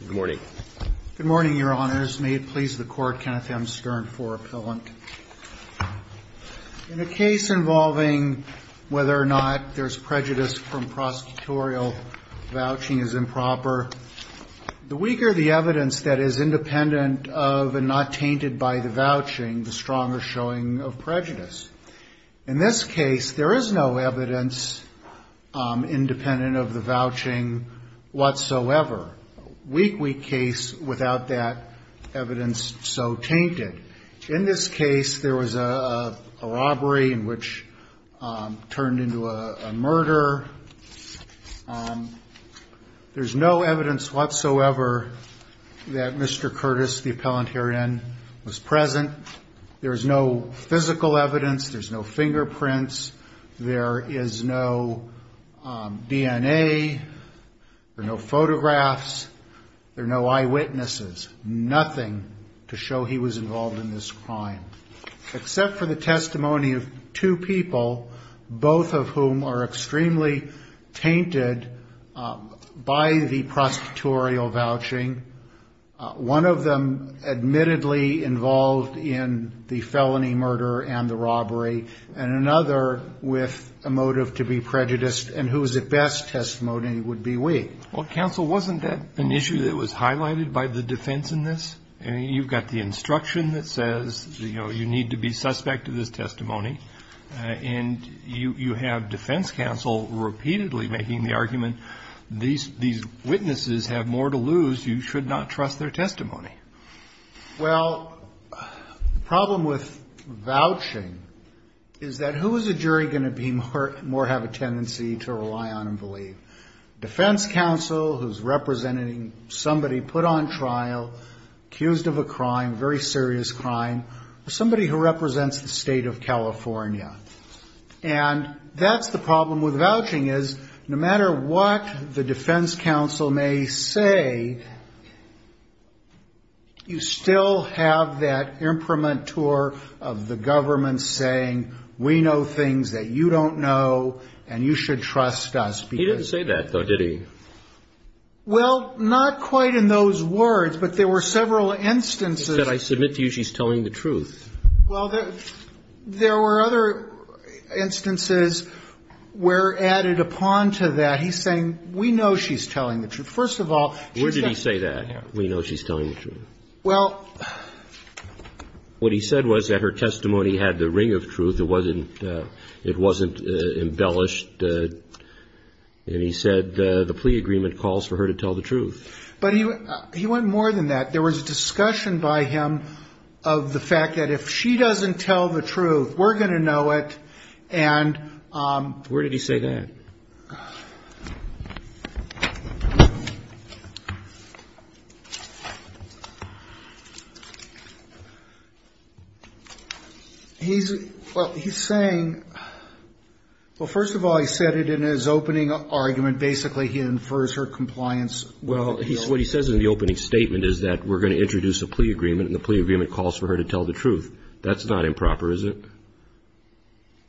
Good morning, Your Honors. May it please the Court, Kenneth M. Stern for appellant. In a case involving whether or not there's prejudice from prosecutorial vouching as improper, the weaker the evidence that is independent of and not tainted by the vouching, the stronger showing of prejudice. In this case, there is no evidence independent of the vouching whatsoever. A weak case without that evidence so tainted. In this case, there was a robbery which turned into a murder. There's no evidence whatsoever that Mr. Curtis, the appellant herein, was present. There's no physical evidence. There's no fingerprints. There is no DNA. There are no photographs. There are no eyewitnesses. Nothing to show he was involved in this crime. Except for the testimony of two people, both of whom are extremely tainted by the felony murder and the robbery, and another with a motive to be prejudiced, and whose best testimony would be weak. Well, counsel, wasn't that an issue that was highlighted by the defense in this? You've got the instruction that says you need to be suspect of this testimony, and you have defense counsel repeatedly making the argument these witnesses have more to lose, you should not trust their testimony. Well, the problem with vouching is that who is a jury going to have a tendency to rely on and believe? Defense counsel who's representing somebody put on trial, accused of a crime, very serious crime, somebody who represents the state of California. And that's the problem with vouching, is no matter what the defense counsel may say, you still have that imprimatur of the government saying, we know things that you don't know, and you should trust us. He didn't say that, though, did he? Well, not quite in those words, but there were several instances. He said, I submit to you she's telling the truth. Well, there were other instances where added upon to that, he's saying, we know she's telling the truth. First of all, she said. Where did he say that, we know she's telling the truth? Well. What he said was that her testimony had the ring of truth, it wasn't embellished, but he went more than that. There was discussion by him of the fact that if she doesn't tell the truth, we're going to know it. And. Where did he say that? He's, well, he's saying, well, first of all, he said it in his opening argument, basically he infers her compliance Well, what he says in the opening statement is that we're going to introduce a plea agreement, and the plea agreement calls for her to tell the truth. That's not improper, is it?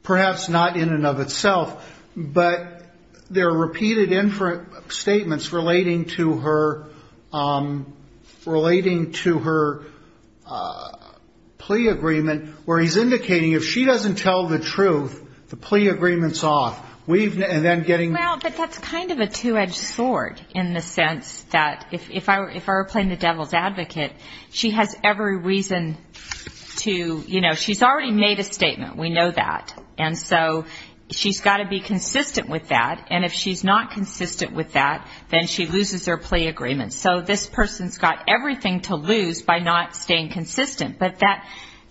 Perhaps not in and of itself, but there are repeated statements relating to her, relating to her plea agreement, where he's indicating, if she doesn't tell the truth, the plea agreement's off. Well, but that's kind of a two-edged sword in the sense that if I were playing the devil's advocate, she has every reason to, you know, she's already made a statement, we know that. And so she's got to be consistent with that, and if she's not consistent with that, then she loses her plea agreement. So this person's got everything to lose by not staying consistent, but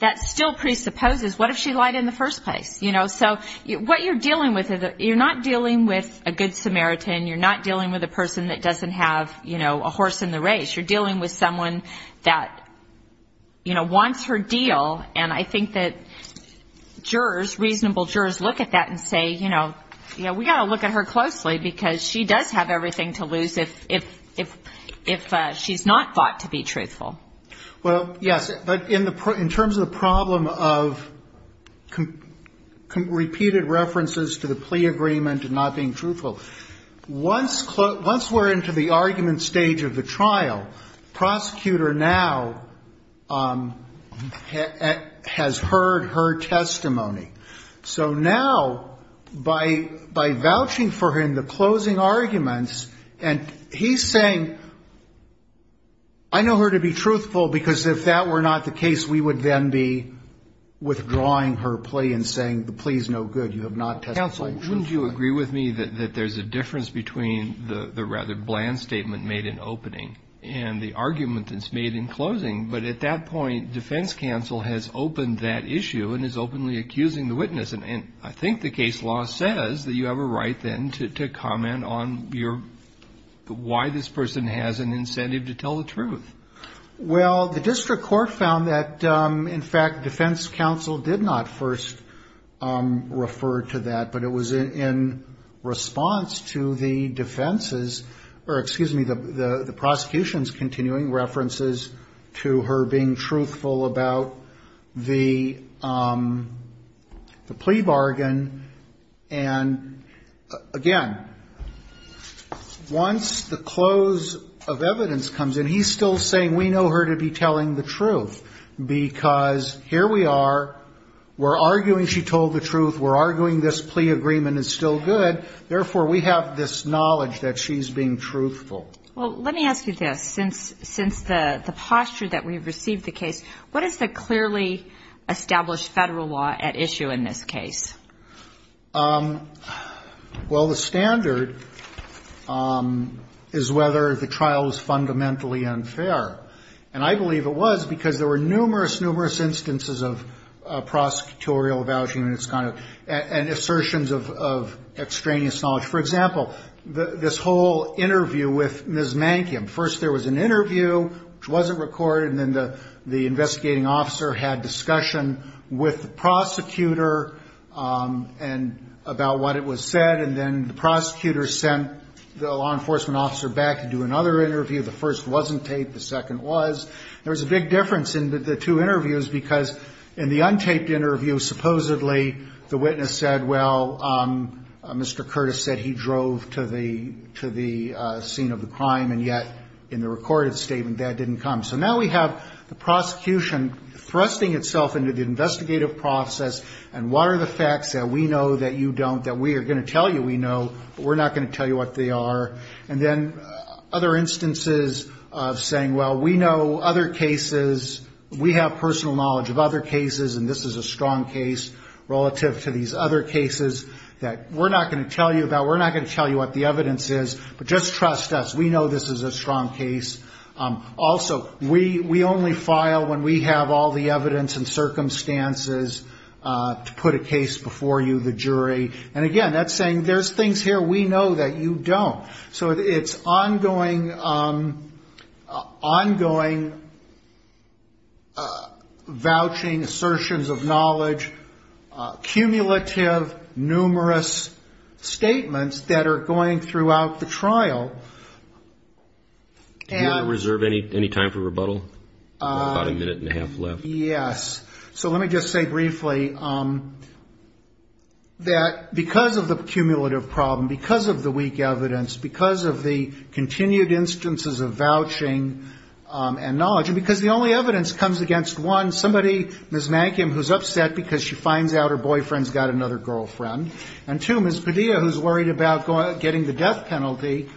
that still presupposes what if she lied in the first place? You know, so what you're dealing with, you're not dealing with a good Samaritan, you're not dealing with a person that doesn't have, you know, a horse in the race. You're dealing with someone that, you know, wants her deal, and I think that jurors, reasonable jurors look at that and say, you know, we've got to look at her closely, because she does have everything to lose if she's not thought to be truthful. Well, yes, but in terms of the problem of repeated references to the plea agreement and not being truthful, once we're into the argument stage of the trial, the prosecutor now has heard her testimony. So now by vouching for her in the closing arguments, and he's saying, I know her to be truthful, but I don't know her to be truthful. Because if that were not the case, we would then be withdrawing her plea and saying the plea's no good, you have not testified truthfully. Counsel, wouldn't you agree with me that there's a difference between the rather bland statement made in opening and the argument that's made in closing? But at that point, defense counsel has opened that issue and is openly accusing the witness. And I think the case law says that you have a right then to comment on your, why this person has an incentive to tell the truth. Well, the district court found that, in fact, defense counsel did not first refer to that. But it was in response to the defense's, or excuse me, the prosecution's continuing references to her being truthful about the plea bargain. And, again, once the close of evidence comes in, he's still saying, I know her to be truthful, but I don't know her to be truthful. He's just saying we know her to be telling the truth. Because here we are, we're arguing she told the truth, we're arguing this plea agreement is still good, therefore we have this knowledge that she's being truthful. Well, let me ask you this, since the posture that we've received the case, what is the clearly established federal law at issue in this case? Well, the standard is whether the trial is fundamentally unfair. And I believe it was, because there were numerous, numerous instances of prosecutorial avowsing and assertions of extraneous knowledge. For example, this whole interview with Ms. Mankiam. First there was an interview, which wasn't recorded, and then the investigating officer had discussion with the prosecutor about what it was said. And then the prosecutor sent the law enforcement officer back to do another interview. The first wasn't taped, the second was. There was a big difference in the two interviews, because in the untaped interview, supposedly the witness said, well, Mr. Curtis said he drove to the scene of the crime, and yet in the recorded statement that didn't come. So now we have the prosecution thrusting itself into the investigative process, and what are the facts that we know that you don't, that we are going to tell you we know, but we're not going to tell you what they are. And then other instances of saying, well, we know other cases, we have personal knowledge of other cases, and this is a strong case relative to these other cases that we're not going to tell you about, we're not going to tell you what the evidence is, but just trust us, we know this is a strong case. Also, we only file when we have all the evidence and circumstances to put a case before you, the jury. And again, that's saying there's things here we know that you don't. So it's ongoing, ongoing vouching, assertions of knowledge, cumulative, numerous statements that are going throughout the trial. And... And that, because of the cumulative problem, because of the weak evidence, because of the continued instances of vouching and knowledge, and because the only evidence comes against, one, somebody, Ms. Mankim, who's upset because she finds out her boyfriend's got another girlfriend, and two, Ms. Padilla, who's worried about getting the death penalty,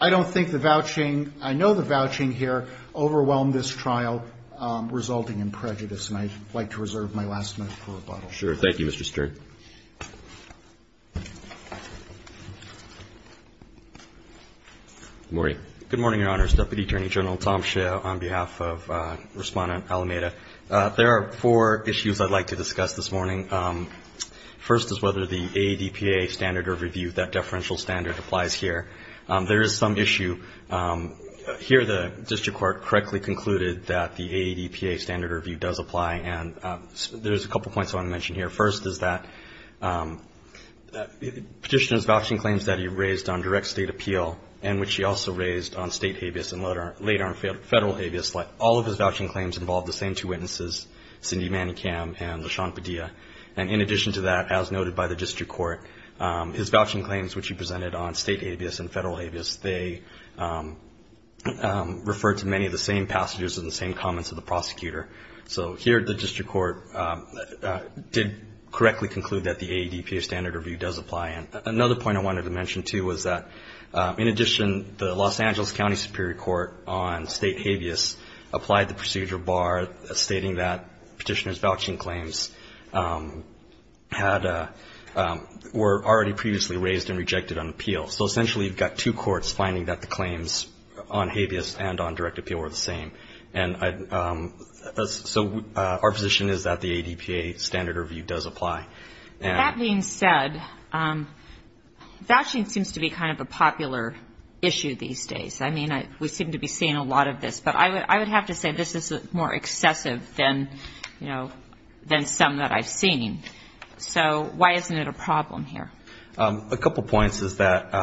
I don't think the vouching, I know the vouching here overwhelmed this trial, resulting in prejudice, and I'd like to reserve my last minute for rebuttal. Sure. Thank you, Mr. Stern. Good morning. Good morning, Your Honors. Deputy Attorney General Tom Shea on behalf of Respondent Alameda. There are four issues I'd like to discuss this morning. First is whether the AADPA standard of review, that deferential standard, applies here. There is some issue. Here the district court correctly concluded that the AADPA standard of review does apply, and there's a couple points I want to mention here. First is that Petitioner's vouching claims that he raised on direct state appeal, and which he also raised on state habeas and later on federal habeas, all of his vouching claims involved the same two witnesses, Cindy Manikam and LaShawn Padilla. And in addition to that, as noted by the district court, his vouching claims, which he presented on state habeas and federal habeas, they refer to many of the same passages and the same comments of the prosecutor. So here the district court did correctly conclude that the AADPA standard of review does apply. Another point I wanted to mention, too, was that in addition the Los Angeles County Superior Court on state habeas applied the procedure bar stating that Petitioner's vouching claims were already previously raised and rejected on appeal. So essentially you've got two courts finding that the claims on habeas and on direct appeal were the same. And so our position is that the AADPA standard of review does apply. And that being said, vouching seems to be kind of a popular issue these days. I mean, we seem to be seeing a lot of this. But I would have to say this is more excessive than, you know, than some that I've seen. So why isn't it a problem here? A couple points is that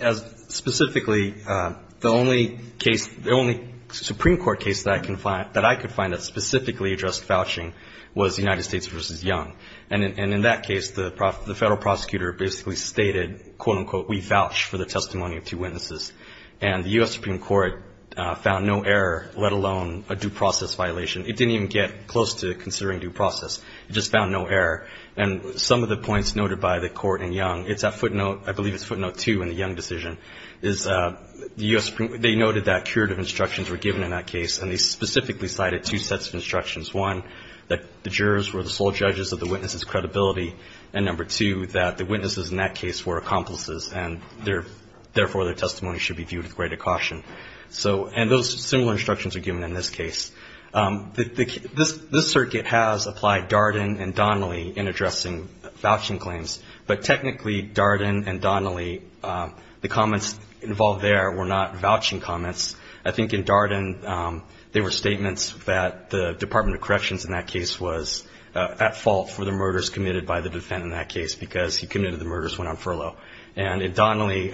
as specifically the only case, the only Supreme Court case that I could find that specifically addressed vouching was the United States v. Young. And in that case, the federal prosecutor basically stated, quote, unquote, we vouch for the testimony of two witnesses. And the U.S. Supreme Court found no error, let alone a due process violation. It didn't even get close to considering due process. It just found no error. And some of the points noted by the court in Young, it's at footnote, I believe it's footnote two in the Young decision, is the U.S. Supreme Court, they noted that curative instructions were given in that case, and they specifically cited two sets of instructions, one, that the jurors were the sole judges of the witnesses' credibility, and number two, that the witnesses in that case were accomplices, and therefore, their testimony should be viewed with greater caution. And those similar instructions are given in this case. This circuit has applied Darden and Donnelly in addressing vouching claims, but technically Darden and Donnelly, the comments involved there were not vouching comments. I think in Darden, there were statements that the Department of Corrections in that case was at fault for the murders committed by the defendant in that case, because he committed the murders when on furlough. And in Donnelly,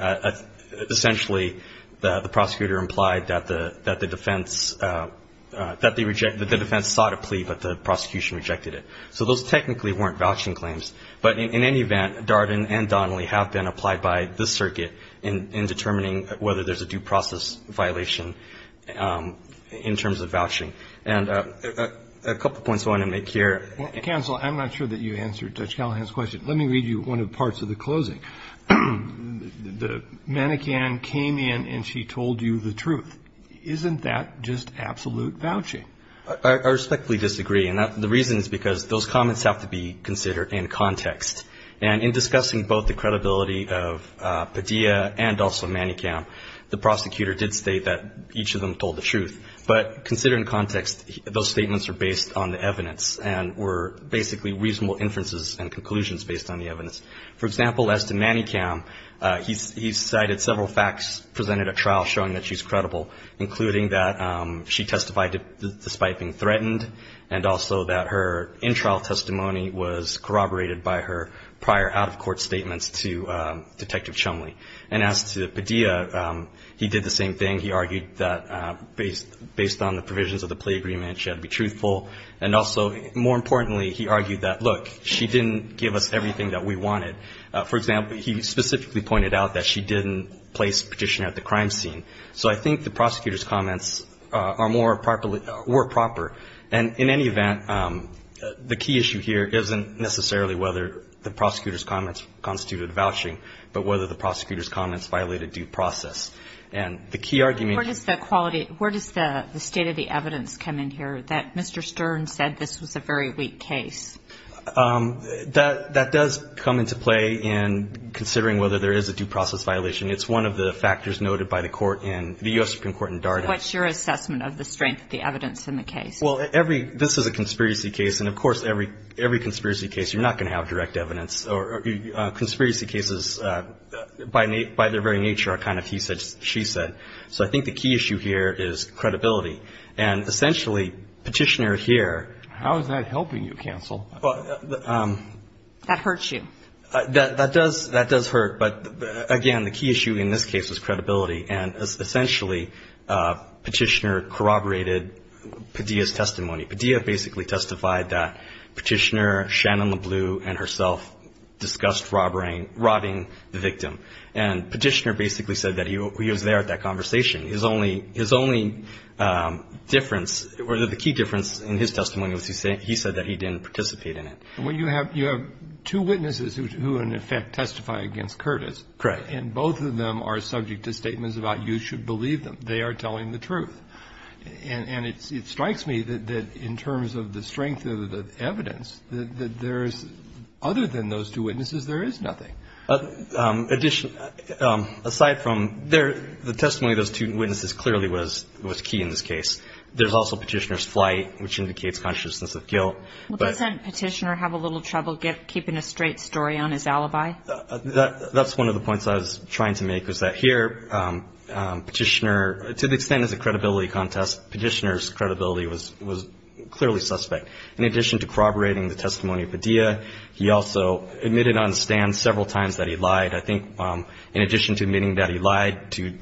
essentially, the prosecutor implied that the defense sought a plea, but the prosecution rejected it. So those technically weren't vouching claims. But in any event, Darden and Donnelly have been applied by this circuit in determining whether there's a due process in terms of vouching. And a couple points I want to make here. Roberts. Counsel, I'm not sure that you answered Judge Callahan's question. Let me read you one of the parts of the closing. The mannequin came in and she told you the truth. Isn't that just absolute vouching? I respectfully disagree, and the reason is because those comments have to be considered in context. And in discussing both the credibility of Padilla and also Manicam, the prosecutor did state that each of them told the truth. But consider in context, those statements are based on the evidence and were basically reasonable inferences and conclusions based on the evidence. For example, as to Manicam, he cited several facts presented at trial showing that she's credible, including that she testified despite being threatened, and also that her in-trial testimony was corroborated by her prior out-of-court statements to Detective Chumley. And as to Padilla, he did the same thing. He argued that based on the provisions of the plea agreement, she had to be truthful. And also, more importantly, he argued that, look, she didn't give us everything that we wanted. For example, he specifically pointed out that she didn't place Petitioner at the crime scene. So I think the prosecutor's comments are more properly or proper. And in any event, the key issue here isn't necessarily whether the prosecutor's comments constituted vouching, but whether the prosecutor's comments violated due process. And the key argument is that the quality of the state of the evidence come in here, that Mr. Stern said this was a very weak case. That does come into play in considering whether there is a due process violation. It's one of the factors noted by the court in the U.S. Supreme Court in Darden. What's your assessment of the strength of the evidence in the case? Well, this is a conspiracy case. And of course, every conspiracy case, you're not going to have direct evidence. Conspiracy cases, by their very nature, are kind of he said, she said. So I think the key issue here is credibility. And essentially, Petitioner here — How is that helping you, counsel? That hurts you. That does hurt. But again, the key issue in this case is credibility. And essentially, Petitioner corroborated Padilla's testimony. Padilla basically testified that Petitioner, Shannon LeBleu, and herself discussed robbing the victim. And Petitioner basically said that he was there at that conversation. His only difference, or the key difference in his testimony was he said that he didn't participate in it. Well, you have two witnesses who, in effect, testify against Curtis. Correct. And both of them are subject to statements about you should believe them. They are telling the truth. And it strikes me that in terms of the strength of the evidence, that there is — other than those two witnesses, there is nothing. Aside from — the testimony of those two witnesses clearly was key in this case. There's also Petitioner's flight, which indicates consciousness of guilt. Well, doesn't Petitioner have a little trouble keeping a straight story on his alibi? That's one of the points I was trying to make, was that here Petitioner — to the extent it's a credibility contest, Petitioner's credibility was clearly suspect. In addition to corroborating the testimony of Padilla, he also admitted on stand several times that he lied. I think in addition to admitting that he lied to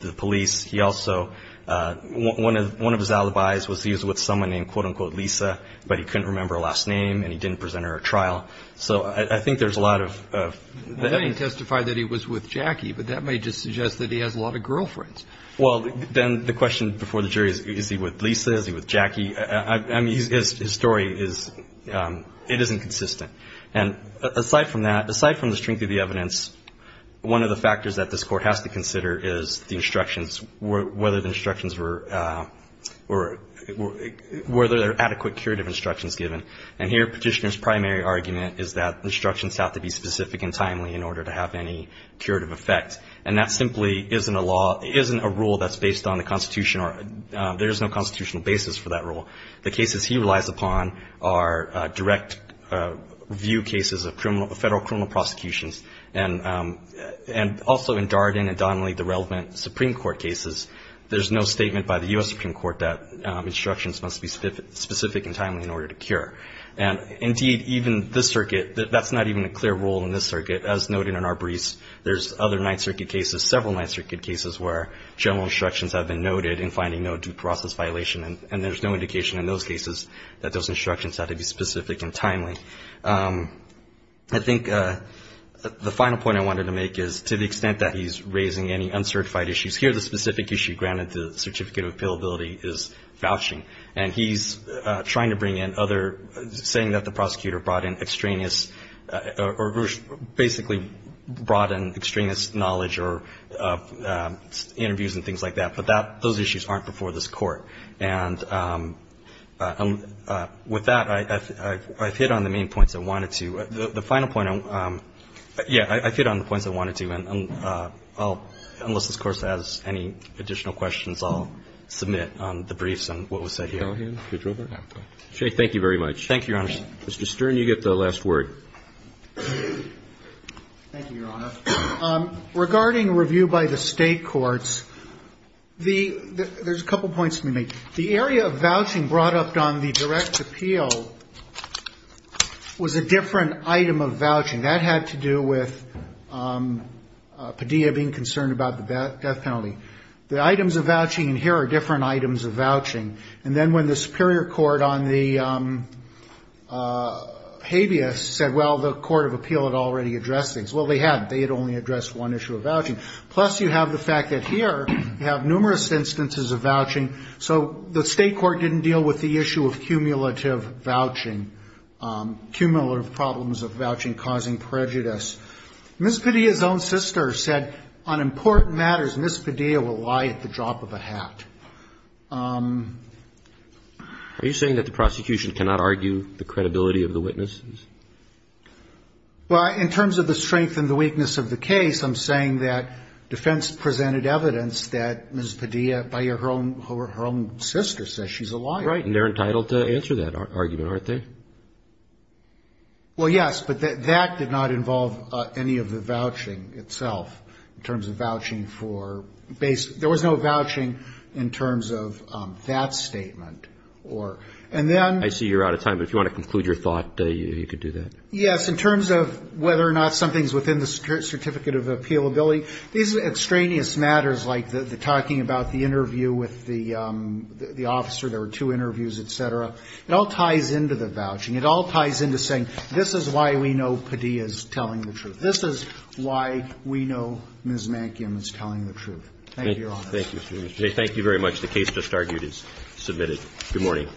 the police, he also — one of his alibis was he was with someone named quote-unquote Lisa, but he couldn't remember her last name and he didn't present her at trial. So I think there's a lot of evidence. Then he testified that he was with Jackie, but that may just suggest that he has a lot of girlfriends. Well, then the question before the jury is, is he with Lisa? Is he with Jackie? I mean, his story is — it isn't consistent. And aside from that, aside from the strength of the evidence, one of the factors that this Court has to consider is the instructions, whether the instructions were — were there adequate curative instructions given. And here Petitioner's primary argument is that instructions have to be specific and timely in order to have any curative effect. And that simply isn't a law — isn't a rule that's based on the Constitution, or there's no constitutional basis for that rule. The cases he relies upon are direct view cases of federal criminal prosecutions, and also in Darden and Donnelly, the relevant Supreme Court cases, there's no statement by the U.S. Supreme Court that instructions must be specific and timely in order to cure. And indeed, even this circuit, that's not even a clear rule in this circuit, as noted in our briefs. There's other Ninth Circuit cases, several Ninth Circuit cases, where general instructions have been noted in finding no due process violation, and there's no indication in those cases that those instructions have to be specific and timely. I think the final point I wanted to make is, to the extent that he's raising any uncertified issues, here the specific issue granted the certificate of appealability is vouching. And he's trying to bring in other — saying that the prosecutor brought in extraneous — or basically brought in extraneous knowledge or interviews and things like that, but that — those issues aren't before this Court. And with that, I've hit on the main points I wanted to. The final point — yeah, I've hit on the points I wanted to. And I'll — unless this Court has any additional questions, I'll submit the briefs and what was said here. Thank you, Robert. Thank you very much. Thank you, Your Honor. Mr. Stern, you get the last word. Thank you, Your Honor. Regarding review by the state courts, there's a couple points to be made. The area of vouching brought up on the direct appeal was a different item of vouching. That had to do with Padilla being concerned about the death penalty. The items of vouching — and here are different items of vouching. And then when the superior court on the habeas said, well, the court of appeal had already addressed things. Well, they hadn't. They had only addressed one issue of vouching. Plus, you have the fact that here you have numerous instances of vouching. So the state court didn't deal with the issue of cumulative vouching, cumulative problems of vouching causing prejudice. Ms. Padilla's own sister said, on important matters, Ms. Padilla will lie at the drop of a hat. Are you saying that the prosecution cannot argue the credibility of the witnesses? Well, in terms of the strength and the weakness of the case, I'm saying that defense presented evidence that Ms. Padilla, by her own sister, says she's a liar. Right. And they're entitled to answer that argument, aren't they? Well, yes. But that did not involve any of the vouching itself in terms of vouching for — there was no vouching in terms of that statement. And then — I see you're out of time, but if you want to conclude your thought, you could do that. Yes. In terms of whether or not something's within the certificate of appealability, these extraneous matters like the talking about the interview with the officer, there were two interviews, et cetera, it all ties into the vouching. It all ties into saying, this is why we know Padilla's telling the truth. This is why we know Ms. Mankiam is telling the truth. Thank you, Your Honor. Thank you, Mr. McJay. Thank you very much. The case just argued is submitted. Good morning.